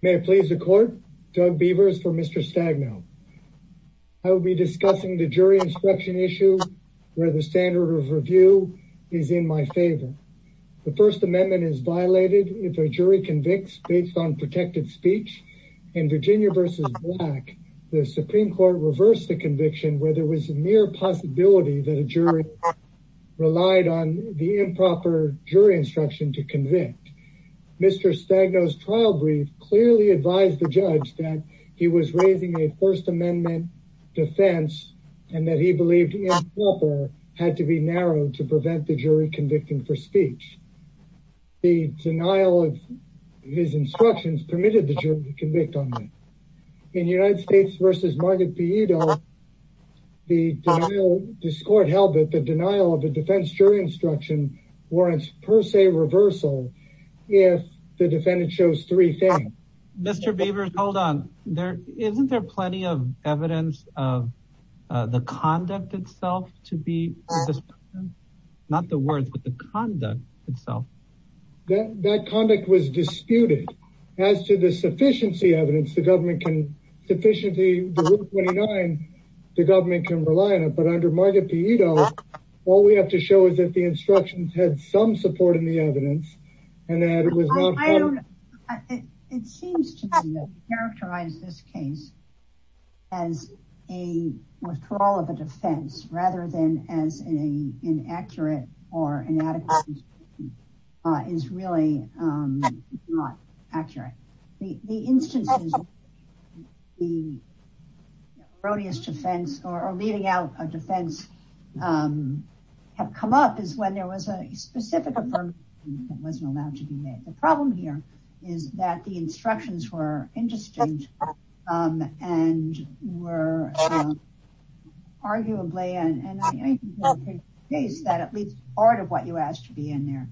May I please the court? Doug Beavers for Mr. Stagno. I will be discussing the jury instruction issue where the standard of review is in my favor. The First Amendment is violated if a jury convicts based on protected speech. In Virginia v. Black, the Supreme Court reversed the conviction where there was a mere possibility that a jury relied on the improper jury instruction to convict. Mr. Stagno's trial brief clearly advised the judge that he was raising a First Amendment defense and that he believed improper had to be narrowed to prevent the jury convicting for speech. The denial of his instructions permitted the jury to convict on that. In United States v. Margaret Pieda, the denial, this court held that the denial of a defense jury instruction warrants per se reversal if the defendant shows three things. Mr. Beavers, hold on. Isn't there plenty of evidence of the conduct itself to be? Not the words, but the conduct itself. That conduct was disputed. As to the sufficiency evidence, the government can sufficiently, the Rule 29, the government can rely on it. But under Margaret Pieda, all we have to show is that the instructions had some support in the evidence and that it was not. It seems to characterize this case as a withdrawal of a defense rather than as an inaccurate or inadequate is really not accurate. The instances, the erroneous defense or leaving out a defense have come up is when there was a specific affirmation that wasn't allowed to be made. The problem here is that the instructions were interesting and were arguably and I think that at least part of what you asked to be in there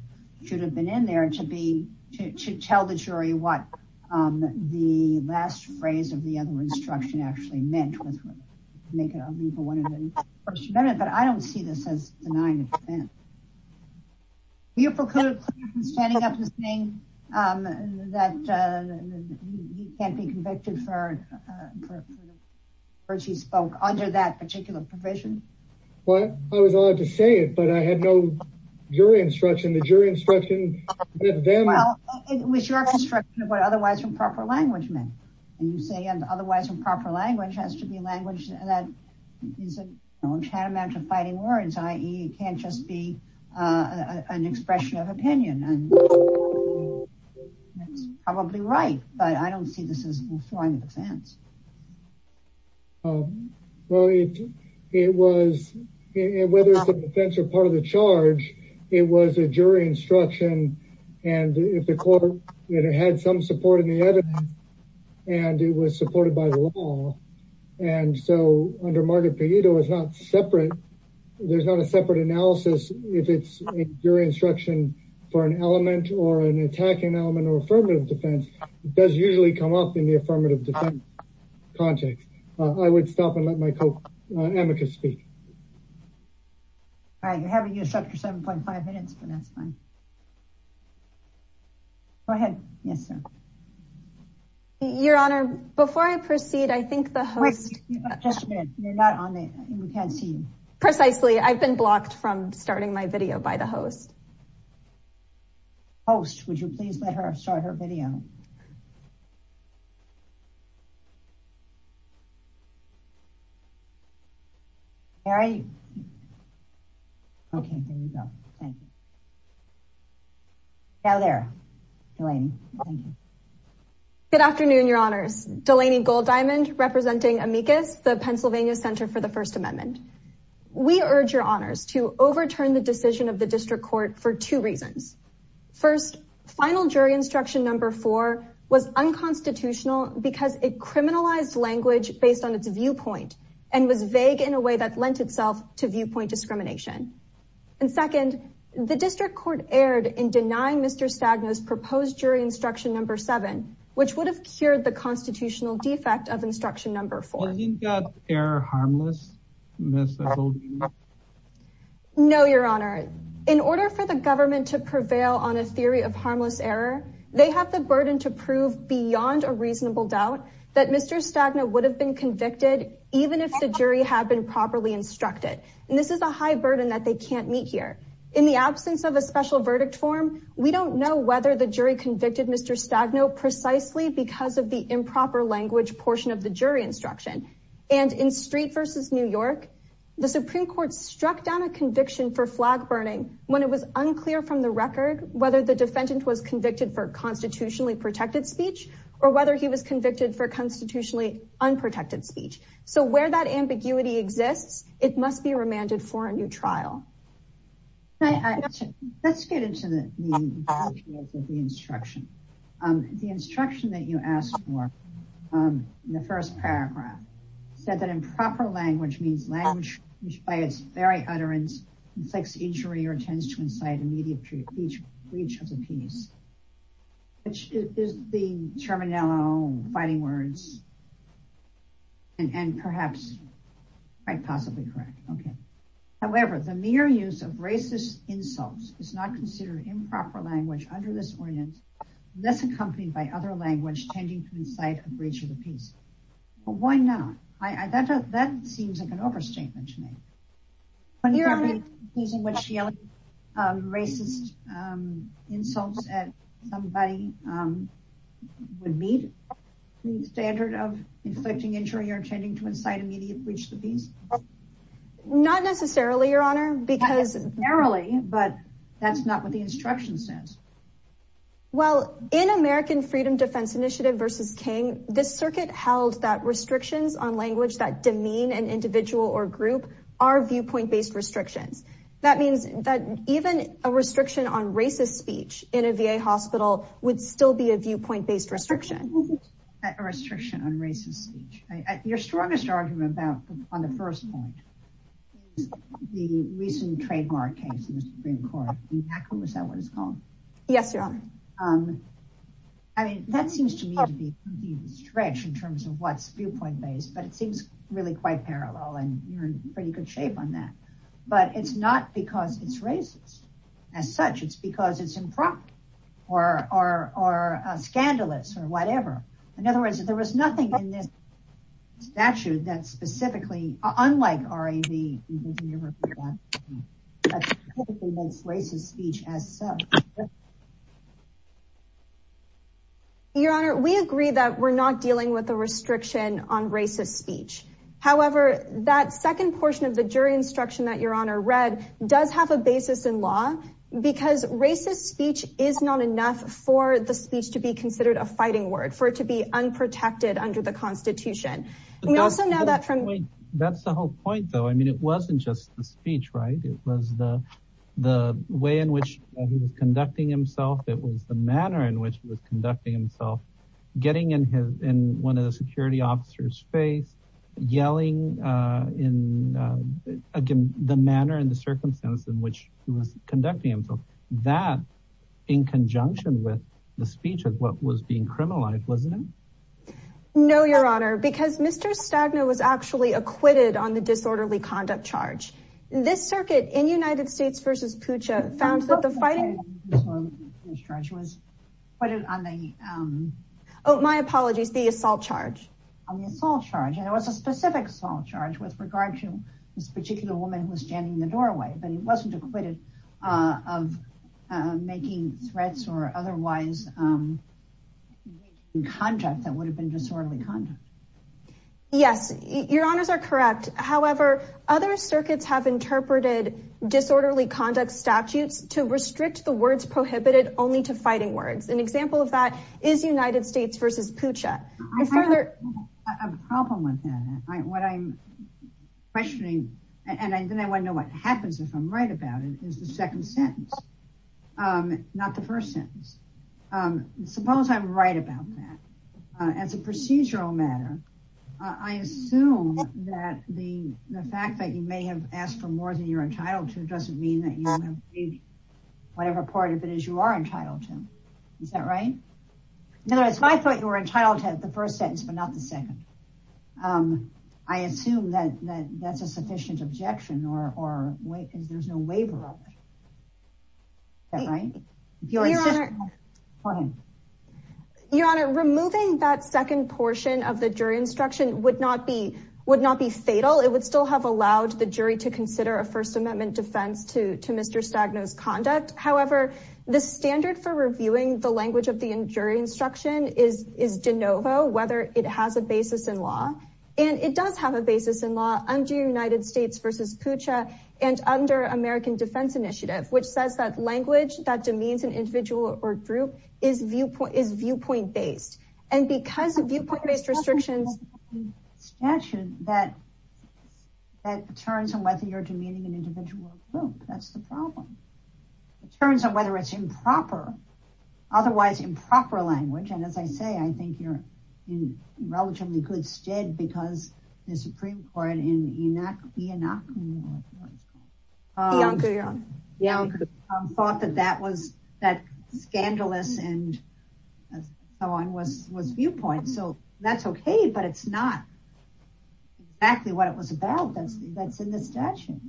should have been in there to be, to tell the jury what the last phrase of the other instruction actually meant was naked. I mean, for one of the first minute, but I don't see this as denying it. Beautiful standing up and saying that he can't be convicted for the words he spoke under that particular provision. Well, I was allowed to say it, but I had no jury instruction. The jury instruction was your instruction of what otherwise improper language meant. And you say, and otherwise improper language has to be language that is a tantamount to fighting words. IE can't just be an expression of opinion. And that's probably right, but I don't see this as a defense. Well, it was, whether it's a defense or part of the charge, it was a jury instruction. And if the court had some support in the evidence and it was supported by the law. And so under Margaret Payita, it was not separate. There's not a separate analysis. If it's a jury instruction for an element or an attacking element or affirmative defense does usually come up in the affirmative defense context. I would stop and let my co-advocate speak. All right. You're having your 7.5 minutes, but that's fine. Go ahead. Yes, sir. Your honor, before I proceed, I think the host. Just a minute. You're not on the, we can't see you. Precisely. I've been blocked from starting my video by the host. Host, would you please let her start her video? All right. Okay. There you go. Thank you. Now there, Delaney. Thank you. Good afternoon, your honors. Delaney Gold Diamond representing amicus, the Pennsylvania center for the first amendment. We urge your honors to overturn the decision of the district court for two reasons. First final jury instruction number four was unconstitutional because it criminalized language based on its viewpoint and was vague in a way that lent itself to viewpoint discrimination. And second, the district court erred in denying mr. Stagnus proposed jury instruction number seven, which would have cured the constitutional defect of instruction. Number four, you've got air harmless. No, your honor, in order for the government to prevail on a theory of harmless error, they have the burden to prove beyond a reasonable doubt that mr. Stagna would have been convicted, even if the jury had been properly instructed. And this is a high burden that they can't meet here in the absence of a special verdict form. We don't know whether the jury convicted mr. Stagno precisely because of the improper language portion of the jury instruction and in street versus New York, the Supreme court struck down a conviction for flag burning when it was unclear from the record, whether the defendant was convicted for constitutionally protected speech or whether he was convicted for constitutionally unprotected speech. So where that ambiguity exists, it must be remanded for a new trial. Okay. Let's get into the instruction. The instruction that you asked for in the first paragraph said that improper language means language by its very utterance inflicts injury or tends to incite immediate breach of the peace, which is the terminology fighting words and, and perhaps I possibly correct. Okay. However, the mere use of racist insults is not considered improper language under this ordinance, less accompanied by other language, tending to incite a breach of the peace. But why not? I, that, that seems like an overstatement to me. Using what she, um, racist, um, insults at somebody, um, would meet the standard of inflicting injury or tending to incite immediate breach of the peace. Not necessarily your honor, because narrowly, but that's not what the instruction says. Well, in American freedom defense initiative versus King, this circuit held that restrictions on language that demean an individual or group are viewpoint-based restrictions. That means that even a restriction on racist speech in a VA hospital would still be a viewpoint-based restriction. Restriction on racist speech. Your strongest argument about, on the first point, the recent trademark case in the Supreme court. Is that what it's called? Yes. Um, I mean, that seems to me to be stretched in terms of what's viewpoint-based, but it seems really quite parallel and you're in pretty good shape on that, but it's not because it's racist as such. It's because it's improper or, or, or, uh, scandalous or whatever. In other words, there was nothing in this statute that specifically, unlike RAV, that specifically holds racist speech as such. Your honor, we agree that we're not dealing with a restriction on racist speech. However, that second portion of the jury instruction that your honor read does have a basis in law because racist speech is not enough for the speech to be considered a fighting word for it to be unprotected under the constitution. We also know that from, that's the whole point though. I mean, wasn't just the speech, right? It was the, the way in which he was conducting himself. It was the manner in which he was conducting himself, getting in his, in one of the security officers face yelling, uh, in, uh, again, the manner and the circumstance in which he was conducting himself that in conjunction with the speech of what was being criminalized. Wasn't it? No, your honor, because Mr. Stagner was actually acquitted on the disorderly conduct charge. This circuit in United States versus Pucha found that the fighting was, but on the, um, oh, my apologies, the assault charge on the assault charge. And it was a specific assault charge with regard to this particular woman who was standing in the doorway, but he wasn't acquitted, uh, of, uh, making threats or otherwise, um, in contact that would have been disorderly conduct. Yes, your honors are correct. However, other circuits have interpreted disorderly conduct statutes to restrict the words prohibited only to fighting words. An example of that is United States versus Pucha. I have a problem with that. I, what I'm questioning, and then I want to know what happens if I'm right about it is the second sentence. Um, not the first sentence. Um, suppose I'm right about that, uh, as a procedural matter, uh, I assume that the, the fact that you may have asked for more than you're entitled to, it doesn't mean that you whatever part of it is you are entitled to. Is that right? In other words, if I thought you were entitled to the first sentence, but not the second, um, I assume that, that that's a sufficient objection or, or wait, cause there's no waiver. Is that right? Your honor, removing that second portion of the jury instruction would not be, would not be fatal. It would still have allowed the jury to consider a first amendment defense to, to Mr. Stagno's conduct. However, the standard for reviewing the language of the injury instruction is, is DeNovo, whether it has a basis in law and it does have a basis in law United States versus Pucha and under American defense initiative, which says that language that demeans an individual or group is viewpoint is viewpoint based. And because of viewpoint based restrictions, that, that turns on whether you're demeaning an individual group, that's the problem. It turns on whether it's improper, otherwise improper language. And as I say, I think you're in relatively good stead because the Supreme court in Enoch, Enoch thought that that was that scandalous and so on was, was viewpoint. So that's okay, but it's not exactly what it was about. That's, that's in the statute.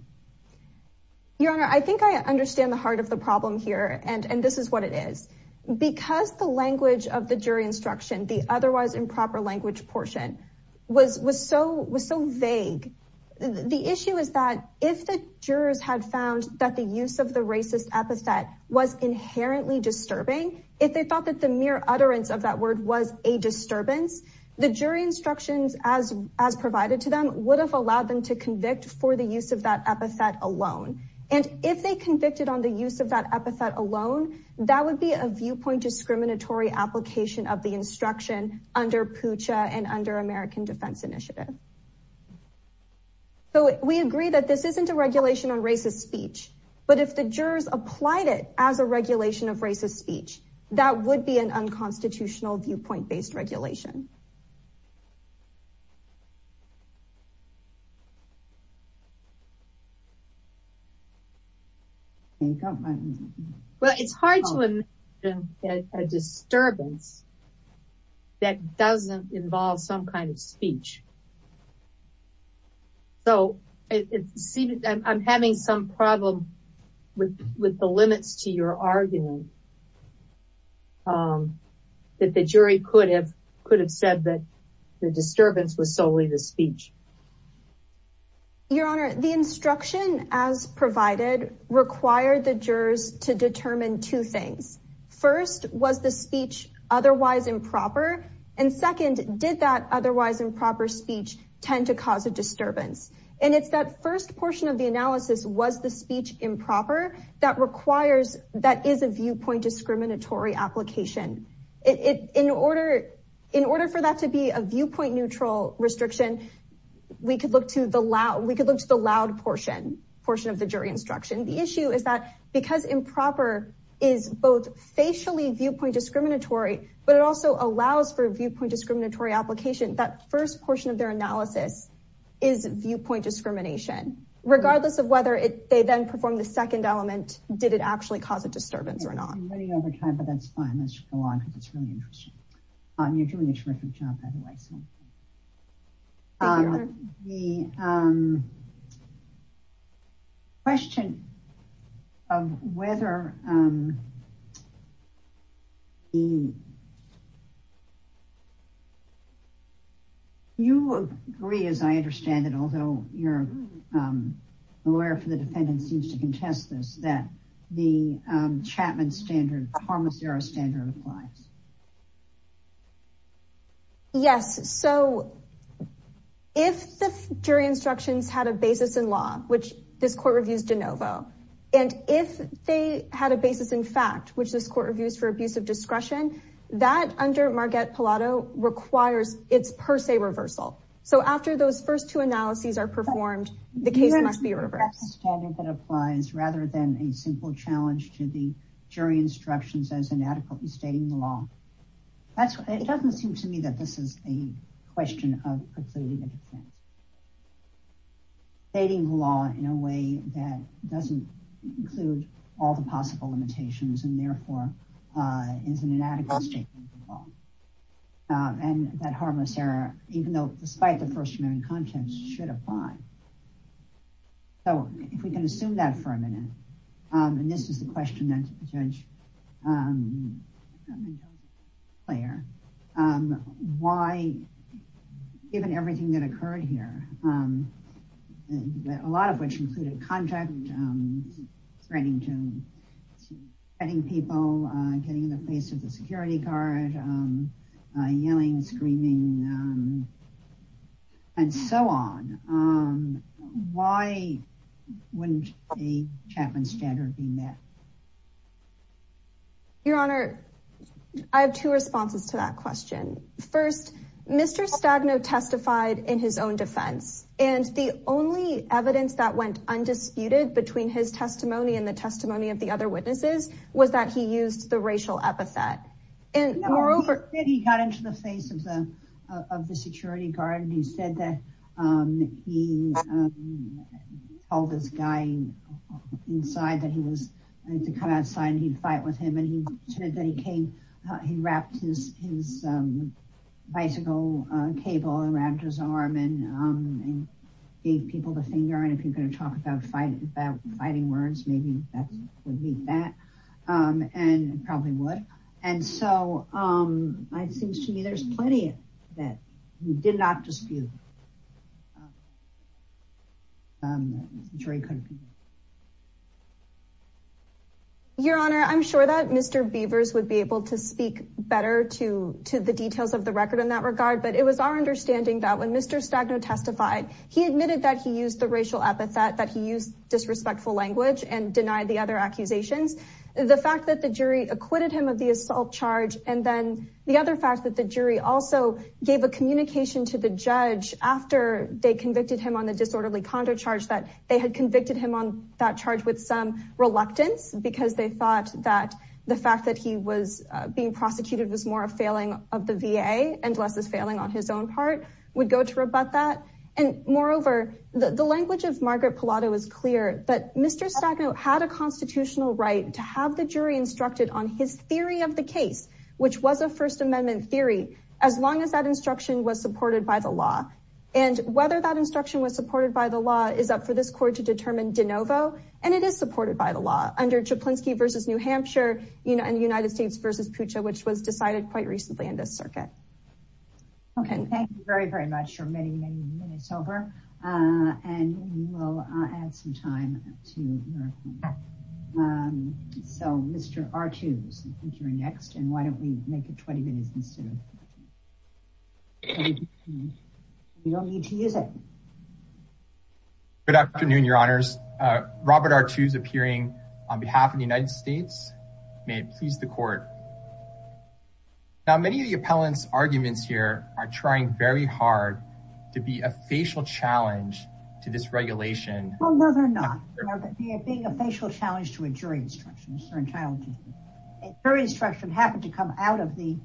Your honor, I think I understand the heart of the problem here. And, and this is what it is because the language of the jury instruction, the otherwise improper language portion was, was so, was so vague. The issue is that if the jurors had found that the use of the racist epithet was inherently disturbing, if they thought that the mere utterance of that word was a disturbance, the jury instructions as, as provided to them would have allowed them to convict for the use of that epithet alone. And if they convicted on the use of that epithet alone, that would be a viewpoint, discriminatory application of the instruction under Pooja and under American defense initiative. So we agree that this isn't a regulation on racist speech, but if the jurors applied it as a regulation of racist speech, that would be an unconstitutional viewpoint-based regulation. Well, it's hard to imagine a disturbance that doesn't involve some kind of speech. So it seems I'm having some problem with, with the limits to your argument that the jury could have, could have said that the disturbance was solely the speech. Your honor, the instruction as provided required the jurors to determine two things. First, was the speech otherwise improper? And second, did that otherwise improper speech tend to cause a disturbance? And it's that first portion of the analysis was the speech improper that requires, that is a viewpoint discriminatory application. In order, in order for that to be a viewpoint neutral restriction, we could look to the loud, we could look to the loud portion, portion of the jury instruction. The issue is that because improper is both facially viewpoint discriminatory, but it also allows for viewpoint discriminatory application. That first portion of their analysis is viewpoint discrimination, regardless of whether they then perform the second element. Did it actually cause a disturbance or not? I'm running out of time, but that's fine. Let's go on because it's really interesting. You're doing a terrific job, by the way. So the question of whether the... You agree, as I understand it, although you're a lawyer for the defendant seems to contest this, that the Chapman standard, harm zero standard applies. Yes. So if the jury instructions had a basis in law, which this court reviews de novo, and if they had a basis in fact, which this court reviews for abuse of discretion, that under Marguerite Pallado requires it's per se reversal. So after those first two analyses are performed, the case must be reversed. That's a standard that applies rather than a simple challenge to the jury instructions as inadequately stating the law. It doesn't seem to me that this is a question of precluding the defense. Stating the law in a way that doesn't include all the possible limitations and therefore is an inadequate statement of the law. And that harmless error, even though despite the first remaining contents should apply. So if we can assume that for a minute, and this is the question of the judge player, why, given everything that occurred here, a lot of which included contact, threatening people, getting in the face of the security guard, yelling, screaming, and so on. Why wouldn't a Chapman standard be met? Your Honor, I have two responses to that question. First, Mr. Stagno testified in his own defense, and the only evidence that went undisputed between his testimony and the testimony of the other witnesses was that he used the racial epithet. And moreover, he got into the face of the security guard and he said that he told this guy inside that he was going to come outside and he'd fight with him. And he said that he came, he wrapped his bicycle cable around his arm and gave people the finger. And if you're going to talk about fighting words, maybe that would meet that and probably would. And so it seems to me there's plenty that we did not dispute. Your Honor, I'm sure that Mr. Beavers would be able to speak better to the details of the record in that regard, but it was our understanding that when Mr. Stagno testified, he admitted that he used that he used disrespectful language and denied the other accusations. The fact that the jury acquitted him of the assault charge, and then the other fact that the jury also gave a communication to the judge after they convicted him on the disorderly condo charge, that they had convicted him on that charge with some reluctance because they thought that the fact that he was being prosecuted was more a failing of the VA and less is failing on his own part would go to rebut that. And moreover, the language of Margaret Pallotta was clear, but Mr. Stagno had a constitutional right to have the jury instructed on his theory of the case, which was a first amendment theory, as long as that instruction was supported by the law. And whether that instruction was supported by the law is up for this court to determine de novo. And it is supported by the law under Chaplinsky versus New Hampshire, you know, and the United States versus Pucha, which was decided quite recently in this circuit. Okay, thank you very, very much for many, many minutes over. And we'll add some time to. So Mr. R2s, I think you're next. And why don't we make it 20 minutes instead of? You don't need to use it. Good afternoon, Your Honors. Robert R2s appearing on behalf of the United States. May it please the court. Now, many of the appellants arguments here are trying very hard to be a facial challenge to this regulation. Well, no, they're not. They're being a facial challenge to a jury instruction. A jury instruction happened to come out of the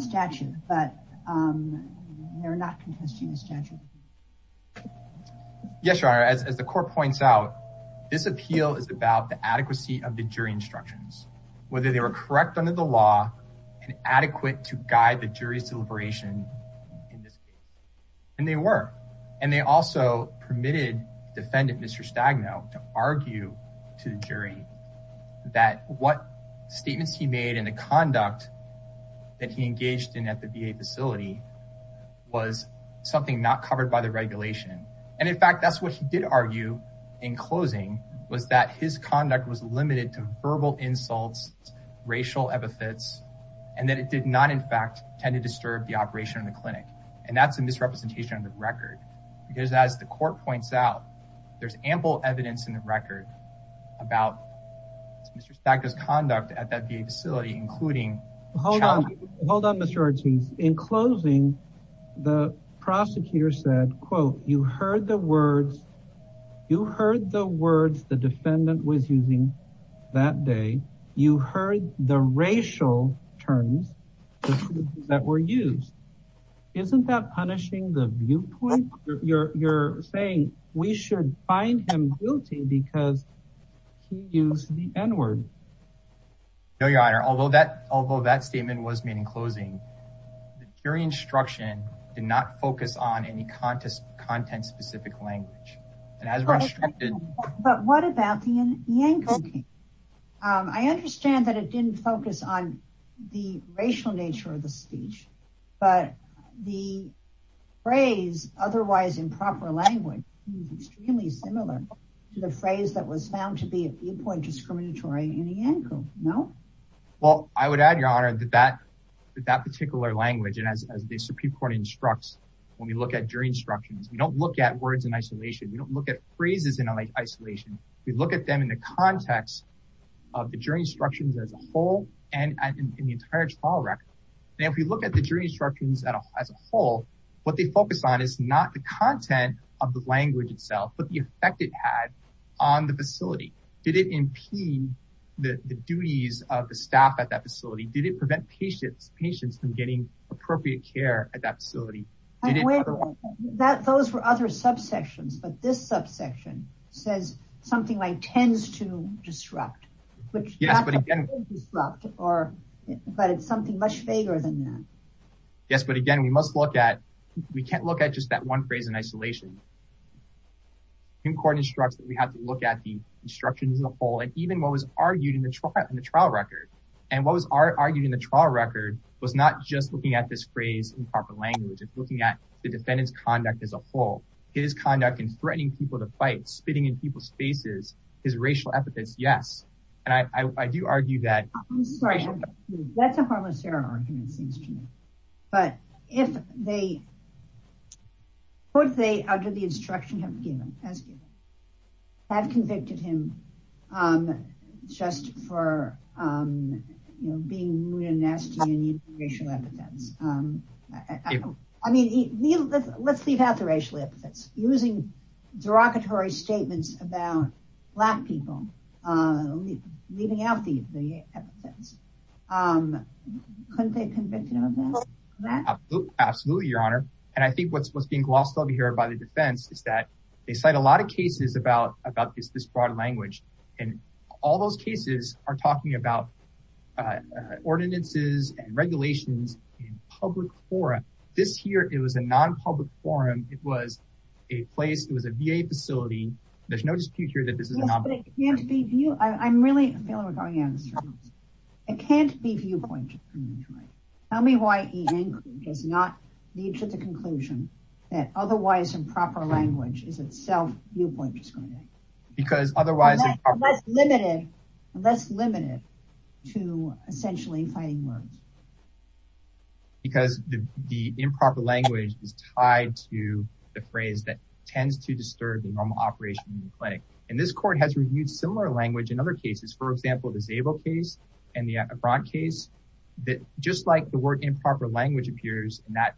statute, but they're not contesting the statute. Yes, Your Honor, as the court points out, this appeal is about the adequacy of the jury instructions, whether they were correct under the law and adequate to guide the jury's deliberation in this case. And they were, and they also permitted defendant, Mr. Stagno to argue to the jury that what statements he made and the conduct that he engaged in at the VA facility was something not covered by the regulation. And in fact, that's what he did argue in closing was that his conduct was limited to verbal insults, racial epithets, and that it did not, in fact, tend to disturb the operation of the clinic. And that's a misrepresentation of the record because as the court points out, there's ample evidence in the record about Mr. Stagno's conduct at that VA facility, including- Hold on, Mr. Ortiz. In closing, the prosecutor said, quote, you heard the words, you heard the words the defendant was using that day. You heard the racial terms that were used. Isn't that punishing the viewpoint? You're saying we should find him because he used the N word. No, your honor. Although that, although that statement was made in closing, the jury instruction did not focus on any content specific language. But what about the Yankee? I understand that it didn't focus on the racial nature of the speech, but the phrase otherwise improper language is extremely similar to the phrase that was found to be a viewpoint discriminatory in the Yankee, no? Well, I would add, your honor, that that particular language, and as the Supreme Court instructs, when we look at jury instructions, we don't look at words in isolation. We don't look at phrases in isolation. We look at them in the instructions as a whole. What they focus on is not the content of the language itself, but the effect it had on the facility. Did it impede the duties of the staff at that facility? Did it prevent patients from getting appropriate care at that facility? Those were other subsections, but this subsection says something like tends to disrupt, but it's something much vaguer than that. Yes, but again, we must look at, we can't look at just that one phrase in isolation. Supreme Court instructs that we have to look at the instructions as a whole, and even what was argued in the trial, in the trial record. And what was argued in the trial record was not just looking at this phrase improper language. It's looking at the defendant's conduct as a whole, his conduct in threatening people to fight, spitting in people's faces, his racial epithets. And I do argue that. I'm sorry, that's a harmless error argument seems to me. But if they, what they, under the instruction have given, has given, have convicted him just for, you know, being rude and nasty and using racial epithets. I mean, let's leave out the racial epithets. Using derogatory statements about black people, leaving out the epithets. Couldn't they convict him of that? Absolutely, your honor. And I think what's being glossed over here by the defense is that they cite a lot of cases about this broad language. And all those cases are talking about ordinances and regulations in public forum. This here, it was a non-public forum. It was a VA facility. There's no dispute here that this is a non-public forum. I'm really feeling we're going out of the circle. It can't be viewpoint discrimination. Tell me why Ian does not lead to the conclusion that otherwise improper language is itself viewpoint discrimination. Because otherwise. Less limited to essentially fighting words. Because the improper language is tied to the phrase that tends to disturb the normal operation in the clinic. And this court has reviewed similar language in other cases. For example, the Zabel case and the Efron case, that just like the word improper language appears in that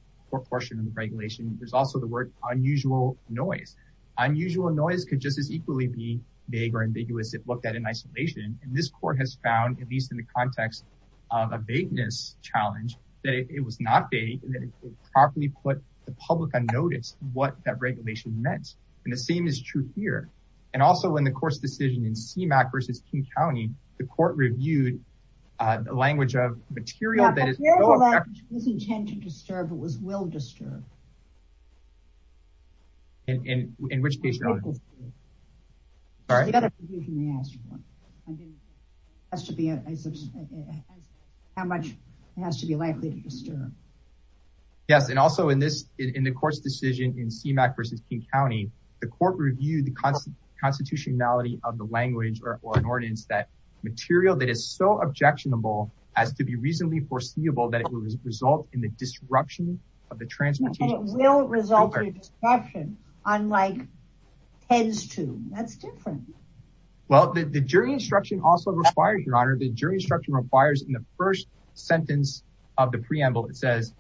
portion of the regulation, there's also the word unusual noise. Unusual noise could just as equally be vague or ambiguous if looked at in isolation. And this court has found, at least in the context of a vagueness challenge, that it was not vague and that it properly put the public on notice what that regulation meant. And the same is true here. And also in the course decision in CMAQ versus King County, the court reviewed the language of material that is intended to disturb. How much it has to be likely to disturb. Yes. And also in this, in the course decision in CMAQ versus King County, the court reviewed the constitutionality of the language or an ordinance that material that is so objectionable as to be reasonably foreseeable that it will result in the disruption of the transportation. It will result in a disruption, unlike tends to. That's different. Well, the jury instruction also requires your honor, the jury instruction requires in the first sentence of the preamble, it says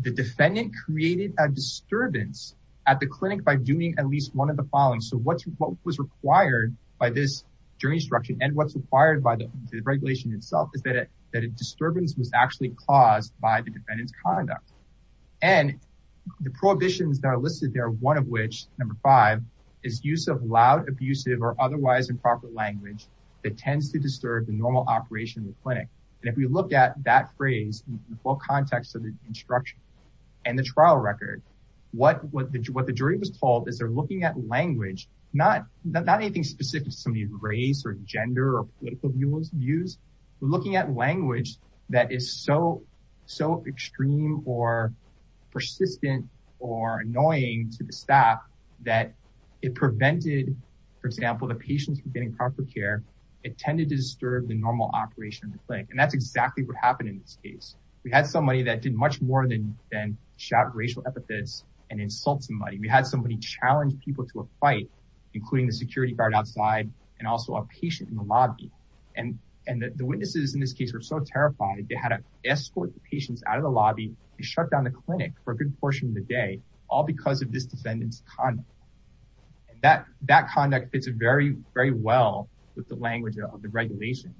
the defendant created a disturbance at the clinic by doing at least one of the following. So what's, what was required by this jury instruction and what's required by the regulation itself is that it, that a disturbance was actually caused by the defendant's conduct and the prohibitions that are listed there. One of which number five is use of loud, abusive, or otherwise improper language that tends to disturb the normal operation of the clinic. And if we looked at that phrase, the full context of the instruction and the trial record, what, what the jury was told is they're looking at language, not, not anything specific to somebody's race or gender or political views, but looking at language that is so, so extreme or persistent or annoying to the staff that it prevented, for example, the patients from getting proper care, it tended to disturb the normal operation of the clinic. And that's exactly what happened in this case. We had somebody that did much more than, than shout racial epithets and insult somebody. We had somebody challenged people to a fight, including the security guard outside and also a patient in the lobby. And, and the witnesses in this case were so terrified. They had to patients out of the lobby and shut down the clinic for a good portion of the day, all because of this defendant's conduct. And that, that conduct fits very, very well with the language of the regulation.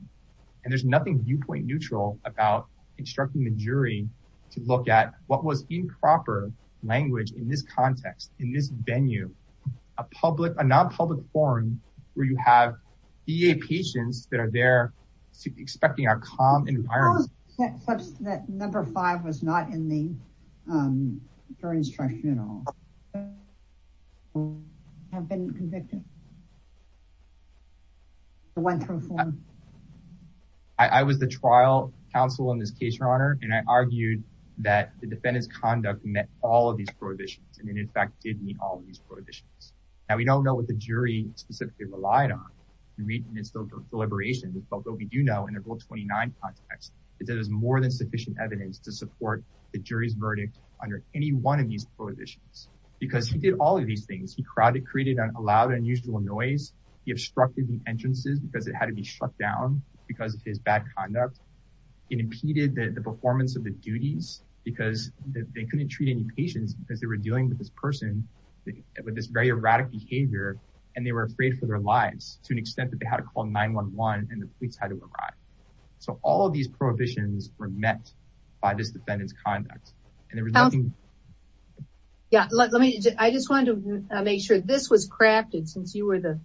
And there's nothing viewpoint neutral about instructing the jury to look at what was improper language in this context, in this venue, a public, a non-public forum where you have VA patients that are there expecting a calm environment. That number five was not in the jury instruction at all. I was the trial counsel in this case, your honor. And I argued that the defendant's conduct met all of these prohibitions. And it in fact did meet all of these prohibitions. Now we don't know what jury specifically relied on. We meet and it's still deliberations, but what we do know in a goal 29 context is that there's more than sufficient evidence to support the jury's verdict under any one of these prohibitions, because he did all of these things. He crowded, created an allowed unusual noise. He obstructed the entrances because it had to be shut down because of his bad conduct and impeded the performance of the duties because they couldn't treat any patients because they were dealing with this person with this very erratic behavior. And they were afraid for their lives to an extent that they had to call 9-1-1 and the police had to arrive. So all of these prohibitions were met by this defendant's conduct. Yeah. Let me, I just wanted to make sure this was crafted since you were the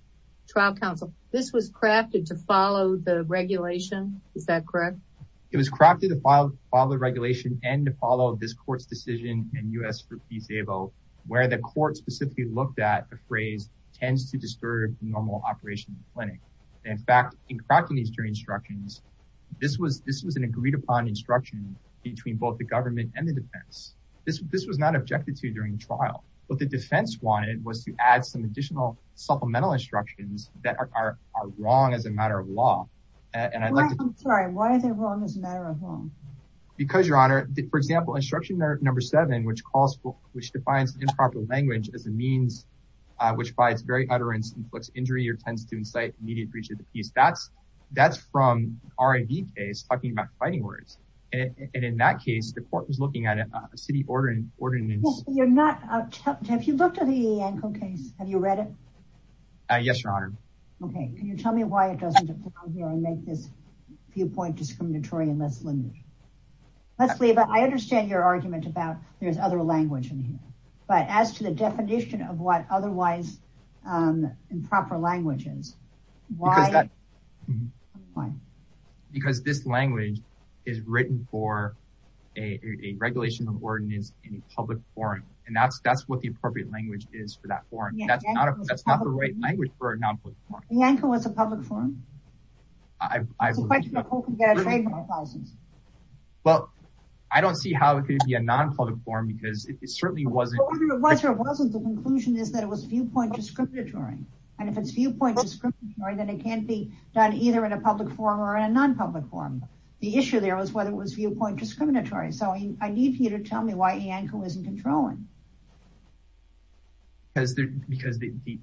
trial counsel, this was crafted to follow the regulation. Is that correct? It was crafted to follow the regulation and to follow this court's decision and us for peace able where the court specifically looked at the phrase tends to disturb normal operation clinic. And in fact, in crafting these jury instructions, this was, this was an agreed upon instruction between both the government and the defense. This, this was not objected to during trial, but the defense wanted was to add some additional supplemental instructions that are wrong as a matter of law. Because your honor, for example, instruction number seven, which calls for, which defines improper language as a means, uh, which by its very utterance inflicts injury or tends to incite immediate breach of the peace. That's, that's from our ID case talking about fighting words. And in that case, the court was looking at a city ordering ordinance. You're not, have you looked at the ankle case? Have you read it? Yes, your honor. Okay. Can you tell me why it doesn't make this viewpoint discriminatory and less limited? Let's leave it. I understand your argument about there's other language in here, but as to the definition of what otherwise, um, improper languages, why? Because this language is written for a regulation of ordinance in a public forum. And that's, that's what the appropriate language is for that forum. That's not a, that's not the right language for a non-public forum. Yanko was a public forum. Well, I don't see how it could be a non-public forum because it certainly wasn't the conclusion is that it was viewpoint discriminatory. And if it's viewpoint, then it can't be done either in a public forum or in a non-public forum. The issue there was whether it was viewpoint discriminatory. So I need you to tell me why isn't controlling because the, because the, the,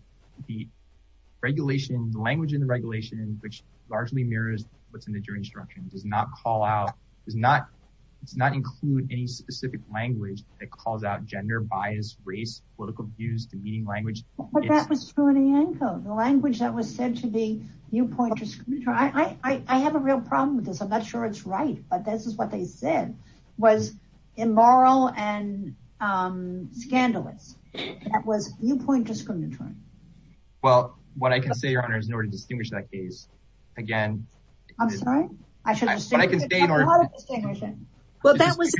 the regulation, the language in the regulation, which largely mirrors what's in the jury instruction does not call out, does not, it's not include any specific language that calls out gender bias, race, political views, demeaning language, the language that was said to be viewpoint. I have a real problem with this. I'm not sure it's right, but this is what they said was immoral and scandalous. That was viewpoint discriminatory. Well, what I can say, your honor, is in order to distinguish that case, again, I'm sorry, I should say in order to distinguish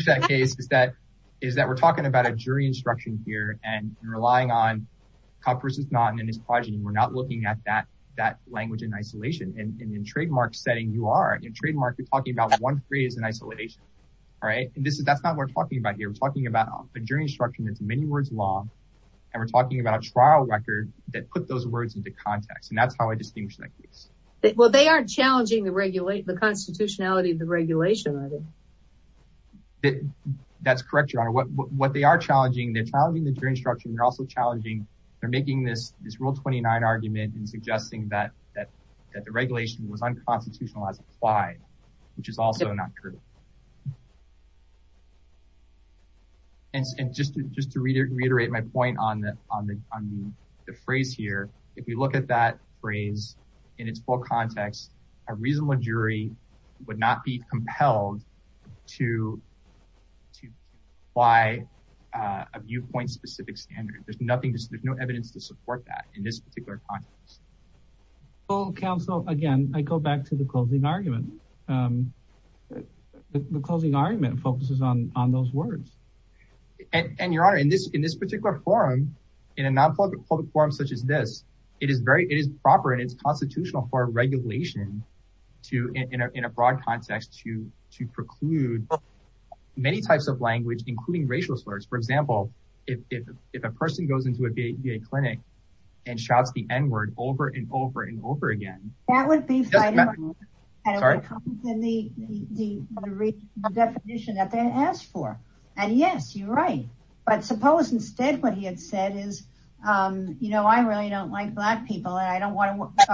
that case is that, is that we're talking about a jury instruction here and relying on Kopp versus Naughton and his progeny. We're not looking at that, that language in isolation and in trademark setting, you are in trademark. You're talking about one phrase in isolation. All right. And this is, that's not what we're talking about here. We're talking about a jury instruction. That's many words long. And we're talking about a trial record that put those words into context. And that's how I distinguish that case. Well, they aren't challenging the regulate the constitutionality of the regulation. That's correct. Your honor, what they are challenging, they're challenging the jury instruction. They're also challenging. They're making this, this rule 29 argument and suggesting that the regulation was unconstitutional as applied, which is also not true. And just to reiterate my point on the phrase here, if you look at that phrase in its full context, a reasonable jury would not be compelled to apply a viewpoint specific standard. There's nothing, there's no evidence to support that in this particular context. Well, counsel, again, I go back to the closing argument. The closing argument focuses on, on those words and your honor in this, in this particular forum, in a non-public forum, such as this, it is very, it is proper. And it's constitutional for regulation to enter in a broad context to, to preclude many types of language, including racial slurs. For example, if, if, if a person goes into a VA clinic and shouts the N-word over and over and over again, that would be the definition that they asked for. And yes, you're right. But suppose instead what he had said is you know, I really don't like black people and I don't want to,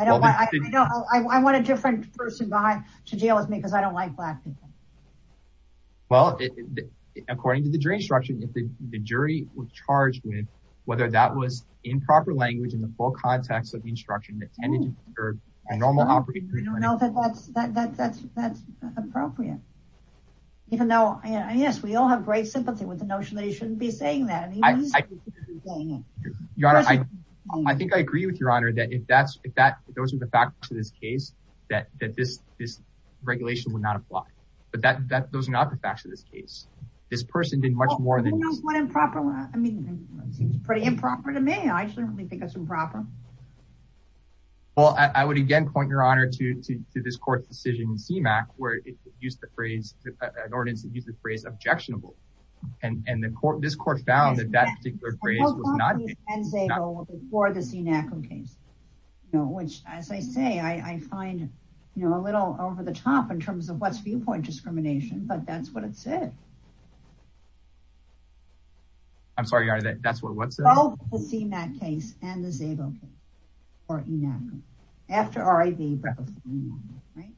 I don't want, I want a different person behind to deal with me because I don't like black people. Well, according to the jury instruction, if the jury was charged with whether that was improper language in the full context of the instruction that tended to serve a normal operating room. I don't know that that's, that's, that's, that's appropriate. Even though I guess we all have great sympathy with the notion that you shouldn't be saying that. I think I agree with your honor that if that's, if that, those are the factors to this case that, that this, this regulation would not apply, but that, that those are not the facts of this case. This person did much more than improper. I mean, it seems pretty improper to me. I certainly think that's improper. Well, I would again, point your honor to, to, to this court's decision in CMAQ, where it used the phrase, an ordinance that used the phrase objectionable. And, and the court, this court found that that particular phrase was not before the CMAQ case, you know, which as I say, I find, you know, a little over the top in terms of what's viewpoint discrimination, but that's what it said. I'm sorry, your honor, that that's what what's the CMAQ case and the ZABO case or ENAQA after RIV, right?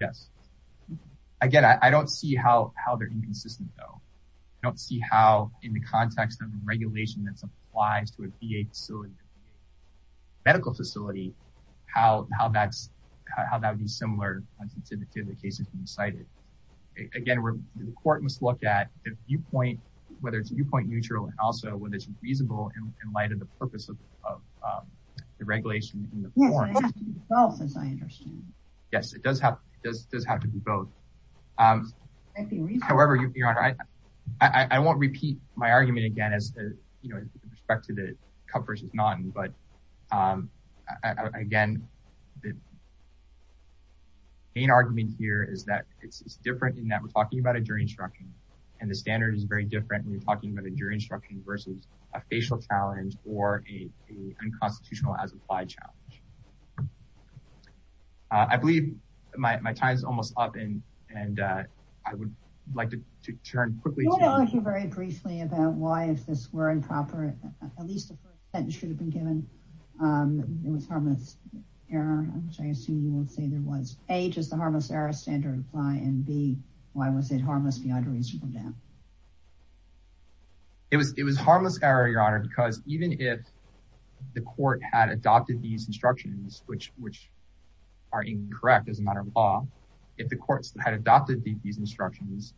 Yes. Again, I don't see how, how they're inconsistent though. I don't see how in the context of regulation that's applies to a VA facility, medical facility, how, how that's, how that would be similar to the cases you cited. Again, the court must look at the viewpoint, whether it's viewpoint neutral and also whether it's reasonable in light of the purpose of the regulation in the form. Yes, it does have, it does, does have to be both. However, your honor, I, I won't repeat my argument again, as you know, with respect to the Cup versus Naughton, but again, main argument here is that it's different in that we're talking about a jury instruction and the standard is very different when you're talking about a jury instruction versus a facial challenge or a unconstitutional as applied challenge. I believe my time is almost up and, and I would like to turn quickly. I want to argue very briefly about why, if this were improper, at least the first sentence should have been given. It was harmless error, which I assume you would say there was. A, just the harmless error standard apply and B, why was it harmless beyond a reasonable doubt? It was, it was harmless error, your honor, because even if the court had adopted these instructions, which, which are incorrect as a matter of law, if the courts had adopted these instructions,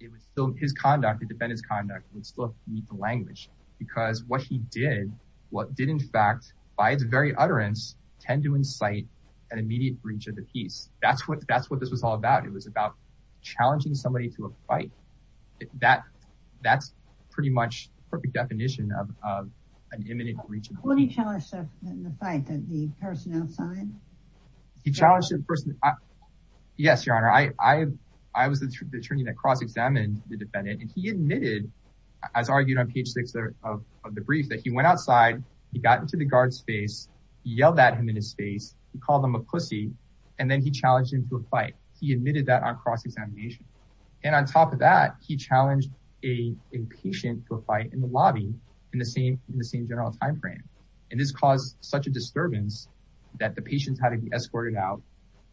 it would still, his conduct, the defendant's conduct would still meet the language because what he did, what did in fact, by its very utterance tend to incite an immediate breach of the peace. That's what, that's what this was all about. It was about challenging somebody to a fight. That, that's pretty much the perfect definition of, of an imminent breach of the peace. When he challenged the fight, the person outside? He challenged the person. Yes, your honor. I, I, I was the attorney that cross-examined the defendant and he admitted, as argued on page six of the brief, that he went outside, he got into the guard's face, yelled at him in his face, he called him a pussy, and then he challenged him to a fight. He admitted that on cross-examination. And on top of that, he challenged a, a patient to a fight in the lobby in the same, in the same general timeframe. And this caused such a disturbance that the patients had to be escorted out.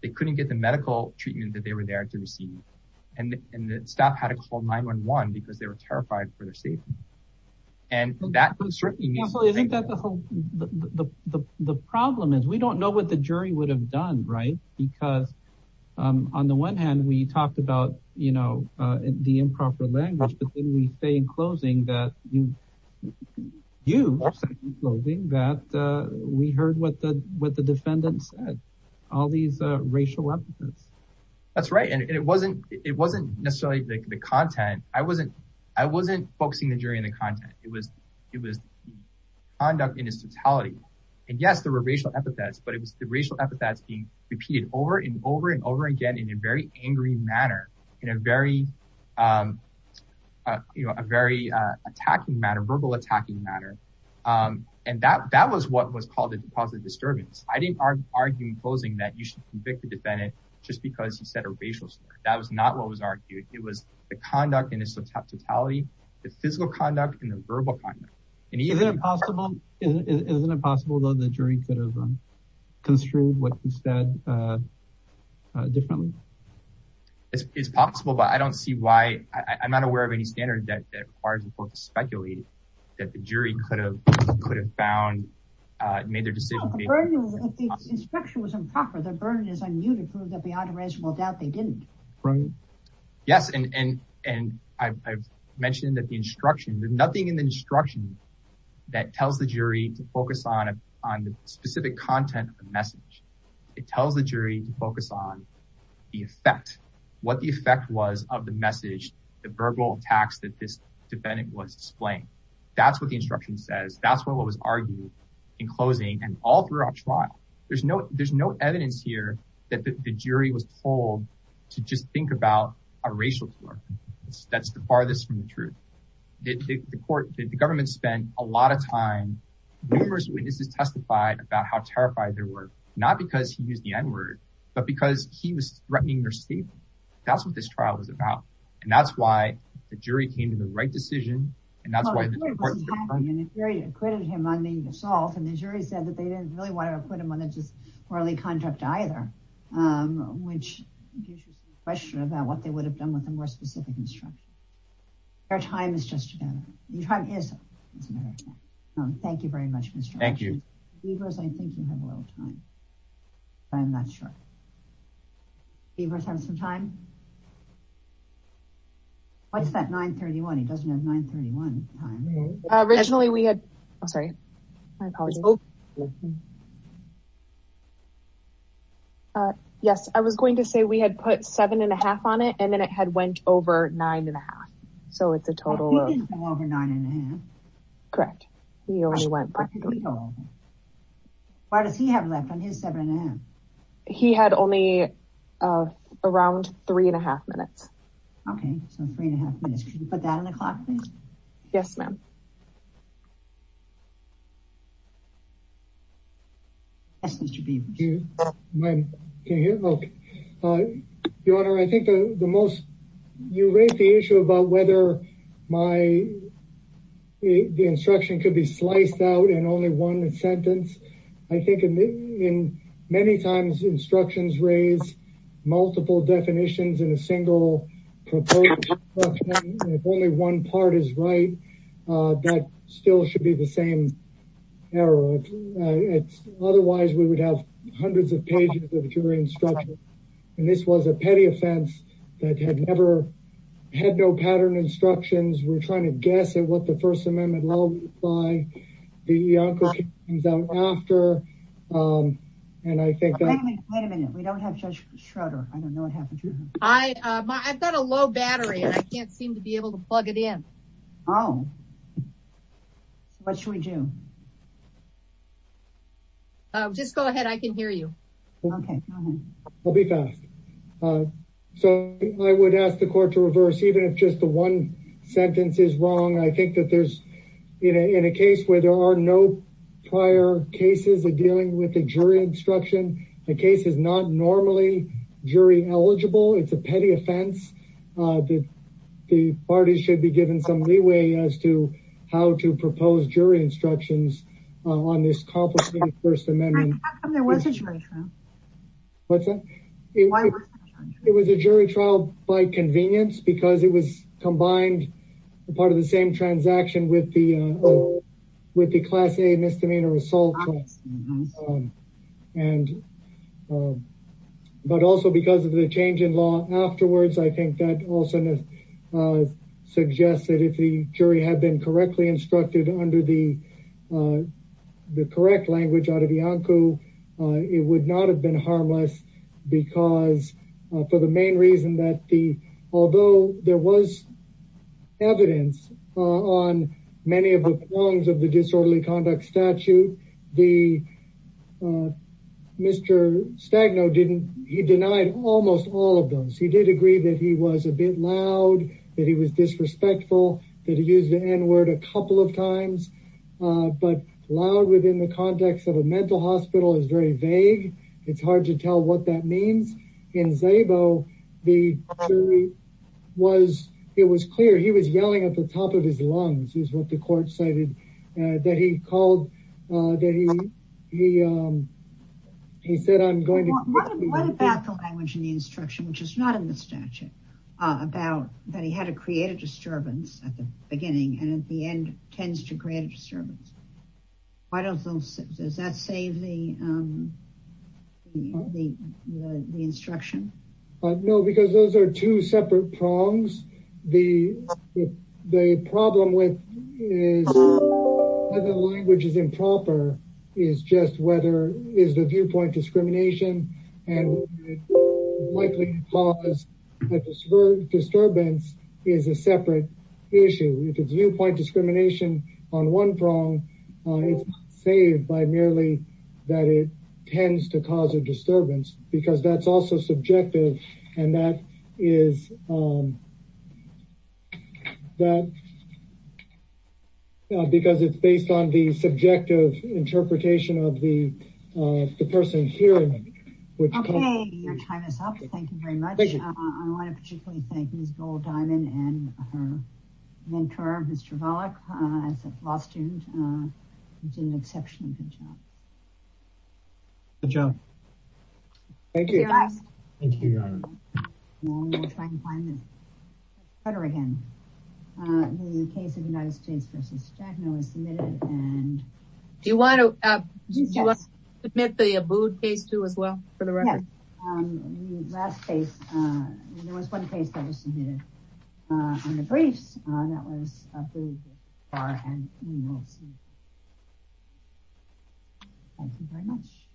They couldn't get the medical treatment that they were there to receive. And, and the staff had to call 911 because they were terrified for their safety. And that was certainly. The, the, the, the problem is we don't know what the jury would have done, right? Because on the one hand we talked about, you know, the improper language, but then we say in closing that you, you, that we heard what the, what the defendant said, all these racial epithets. That's right. And it wasn't, it wasn't necessarily the content. I wasn't, I wasn't focusing the jury on the content. It was, it was conduct in its totality. And yes, there were racial epithets, but it was the racial epithets being repeated over and over and over again in a very angry manner, in a very, you know, a very attacking matter, verbal attacking matter. And that, that was what was called a positive disturbance. I didn't argue in closing that you should convict the defendant just because he said a racial stuff. That was not what was argued. It was the conduct in its totality, the physical conduct and the verbal conduct. Is it possible, is it possible though, the jury could have construed what you said differently? It's possible, but I don't see why I'm not aware of any standard that requires the court to speculate that the jury could have, could have found, made their decision. If the instruction was improper, the burden is on you to prove that beyond a reasonable doubt they didn't. Right. Yes. And, and, and I've, I've mentioned that the instruction, there's nothing in the instruction that tells the jury to focus on, on the specific content of the message. It tells the jury to focus on the effect, what the effect was of the message, the verbal attacks that this defendant was displaying. That's what the instruction says. That's what was argued in closing and all throughout trial. There's no, there's no evidence here that the jury was told to just think about a racial tolerance. That's the farthest from the truth. The court, the government spent a lot of time, numerous witnesses testified about how terrified they were, not because he used the N word, but because he was threatening their safety. That's what this trial was about. And that's why the jury came to the right decision. And that's why the jury acquitted him on the assault. And the jury said that they didn't really want to put him on a just contract either. Which gives you some question about what they would have done with a more specific instruction. Their time is just better. Your time is better. Thank you very much. Thank you. I think you have a little time. I'm not sure. Do you have some time? What's that 931? He doesn't have 931 time. Originally we had, I'm sorry. Uh, yes, I was going to say we had put seven and a half on it and then it had went over nine and a half. So it's a total of nine and a half. Correct. He only went. Why does he have left on his seven and a half? He had only, uh, around three and a half minutes. Okay. So three and a half minutes. Can you put that on the clock? Yes, ma'am. Yes, Mr. Beam. Can you hear? Okay. Your Honor, I think the most, you raised the issue about whether my, the instruction could be sliced out and only one sentence. I think in many times instructions raise multiple definitions in a single proposal. If only one part is right, uh, that still should be the same error. It's otherwise we would have hundreds of pages of jury instruction. And this was a petty offense that had never had no pattern instructions. We're trying to guess at what the first amendment law by the uncle comes out after. Um, and I think wait a minute. We don't have judge Schroeder. I don't know what happened to him. I, uh, I've I don't know. What should we do? Uh, just go ahead. I can hear you. Okay. I'll be fast. Uh, so I would ask the court to reverse, even if just the one sentence is wrong. I think that there's in a, in a case where there are no prior cases of dealing with the jury instruction, the case is not normally jury eligible. It's a how to propose jury instructions on this complicated first amendment. It was a jury trial by convenience because it was combined part of the same transaction with the, with the class a misdemeanor assault. Um, and, um, but also because of the change in law afterwards, I think that also, uh, suggests that if the jury had been correctly instructed under the, uh, the correct language out of the uncle, uh, it would not have been harmless because, for the main reason that the, although there was evidence on many of the forms of the disorderly He did agree that he was a bit loud, that he was disrespectful that he used the N word a couple of times. Uh, but loud within the context of a mental hospital is very vague. It's hard to tell what that means in Zabo. The jury was, it was clear. He was yelling at the top of his lungs is what the court cited, uh, that he called, uh, that he, he, um, he said, I'm going to What about the language in the instruction, which is not in the statute, uh, about that he had to create a disturbance at the beginning. And at the end tends to create a disturbance. Why don't those, does that save the, um, the, the, the instruction? No, because those are two separate prongs. The, the problem with is the language is improper is just whether is the viewpoint discrimination and likely to cause a disturbance is a separate issue. If it's viewpoint discrimination on one prong, uh, it's saved by merely that it tends to cause a disturbance because that's also subjective. And that is, um, that, uh, because it's based on the subjective interpretation of the, uh, the person hearing. Okay. Your time is up. Thank you very much. I want to particularly thank Ms. Gold Diamond and her mentor, Mr. Volokh, uh, as a law student, uh, did an exceptionally good job. Good job. Thank you. Do you want to submit the Abood case too, as well for the record? Last case, uh, there was one case that was submitted, uh, on the briefs, uh, that was thank you very much.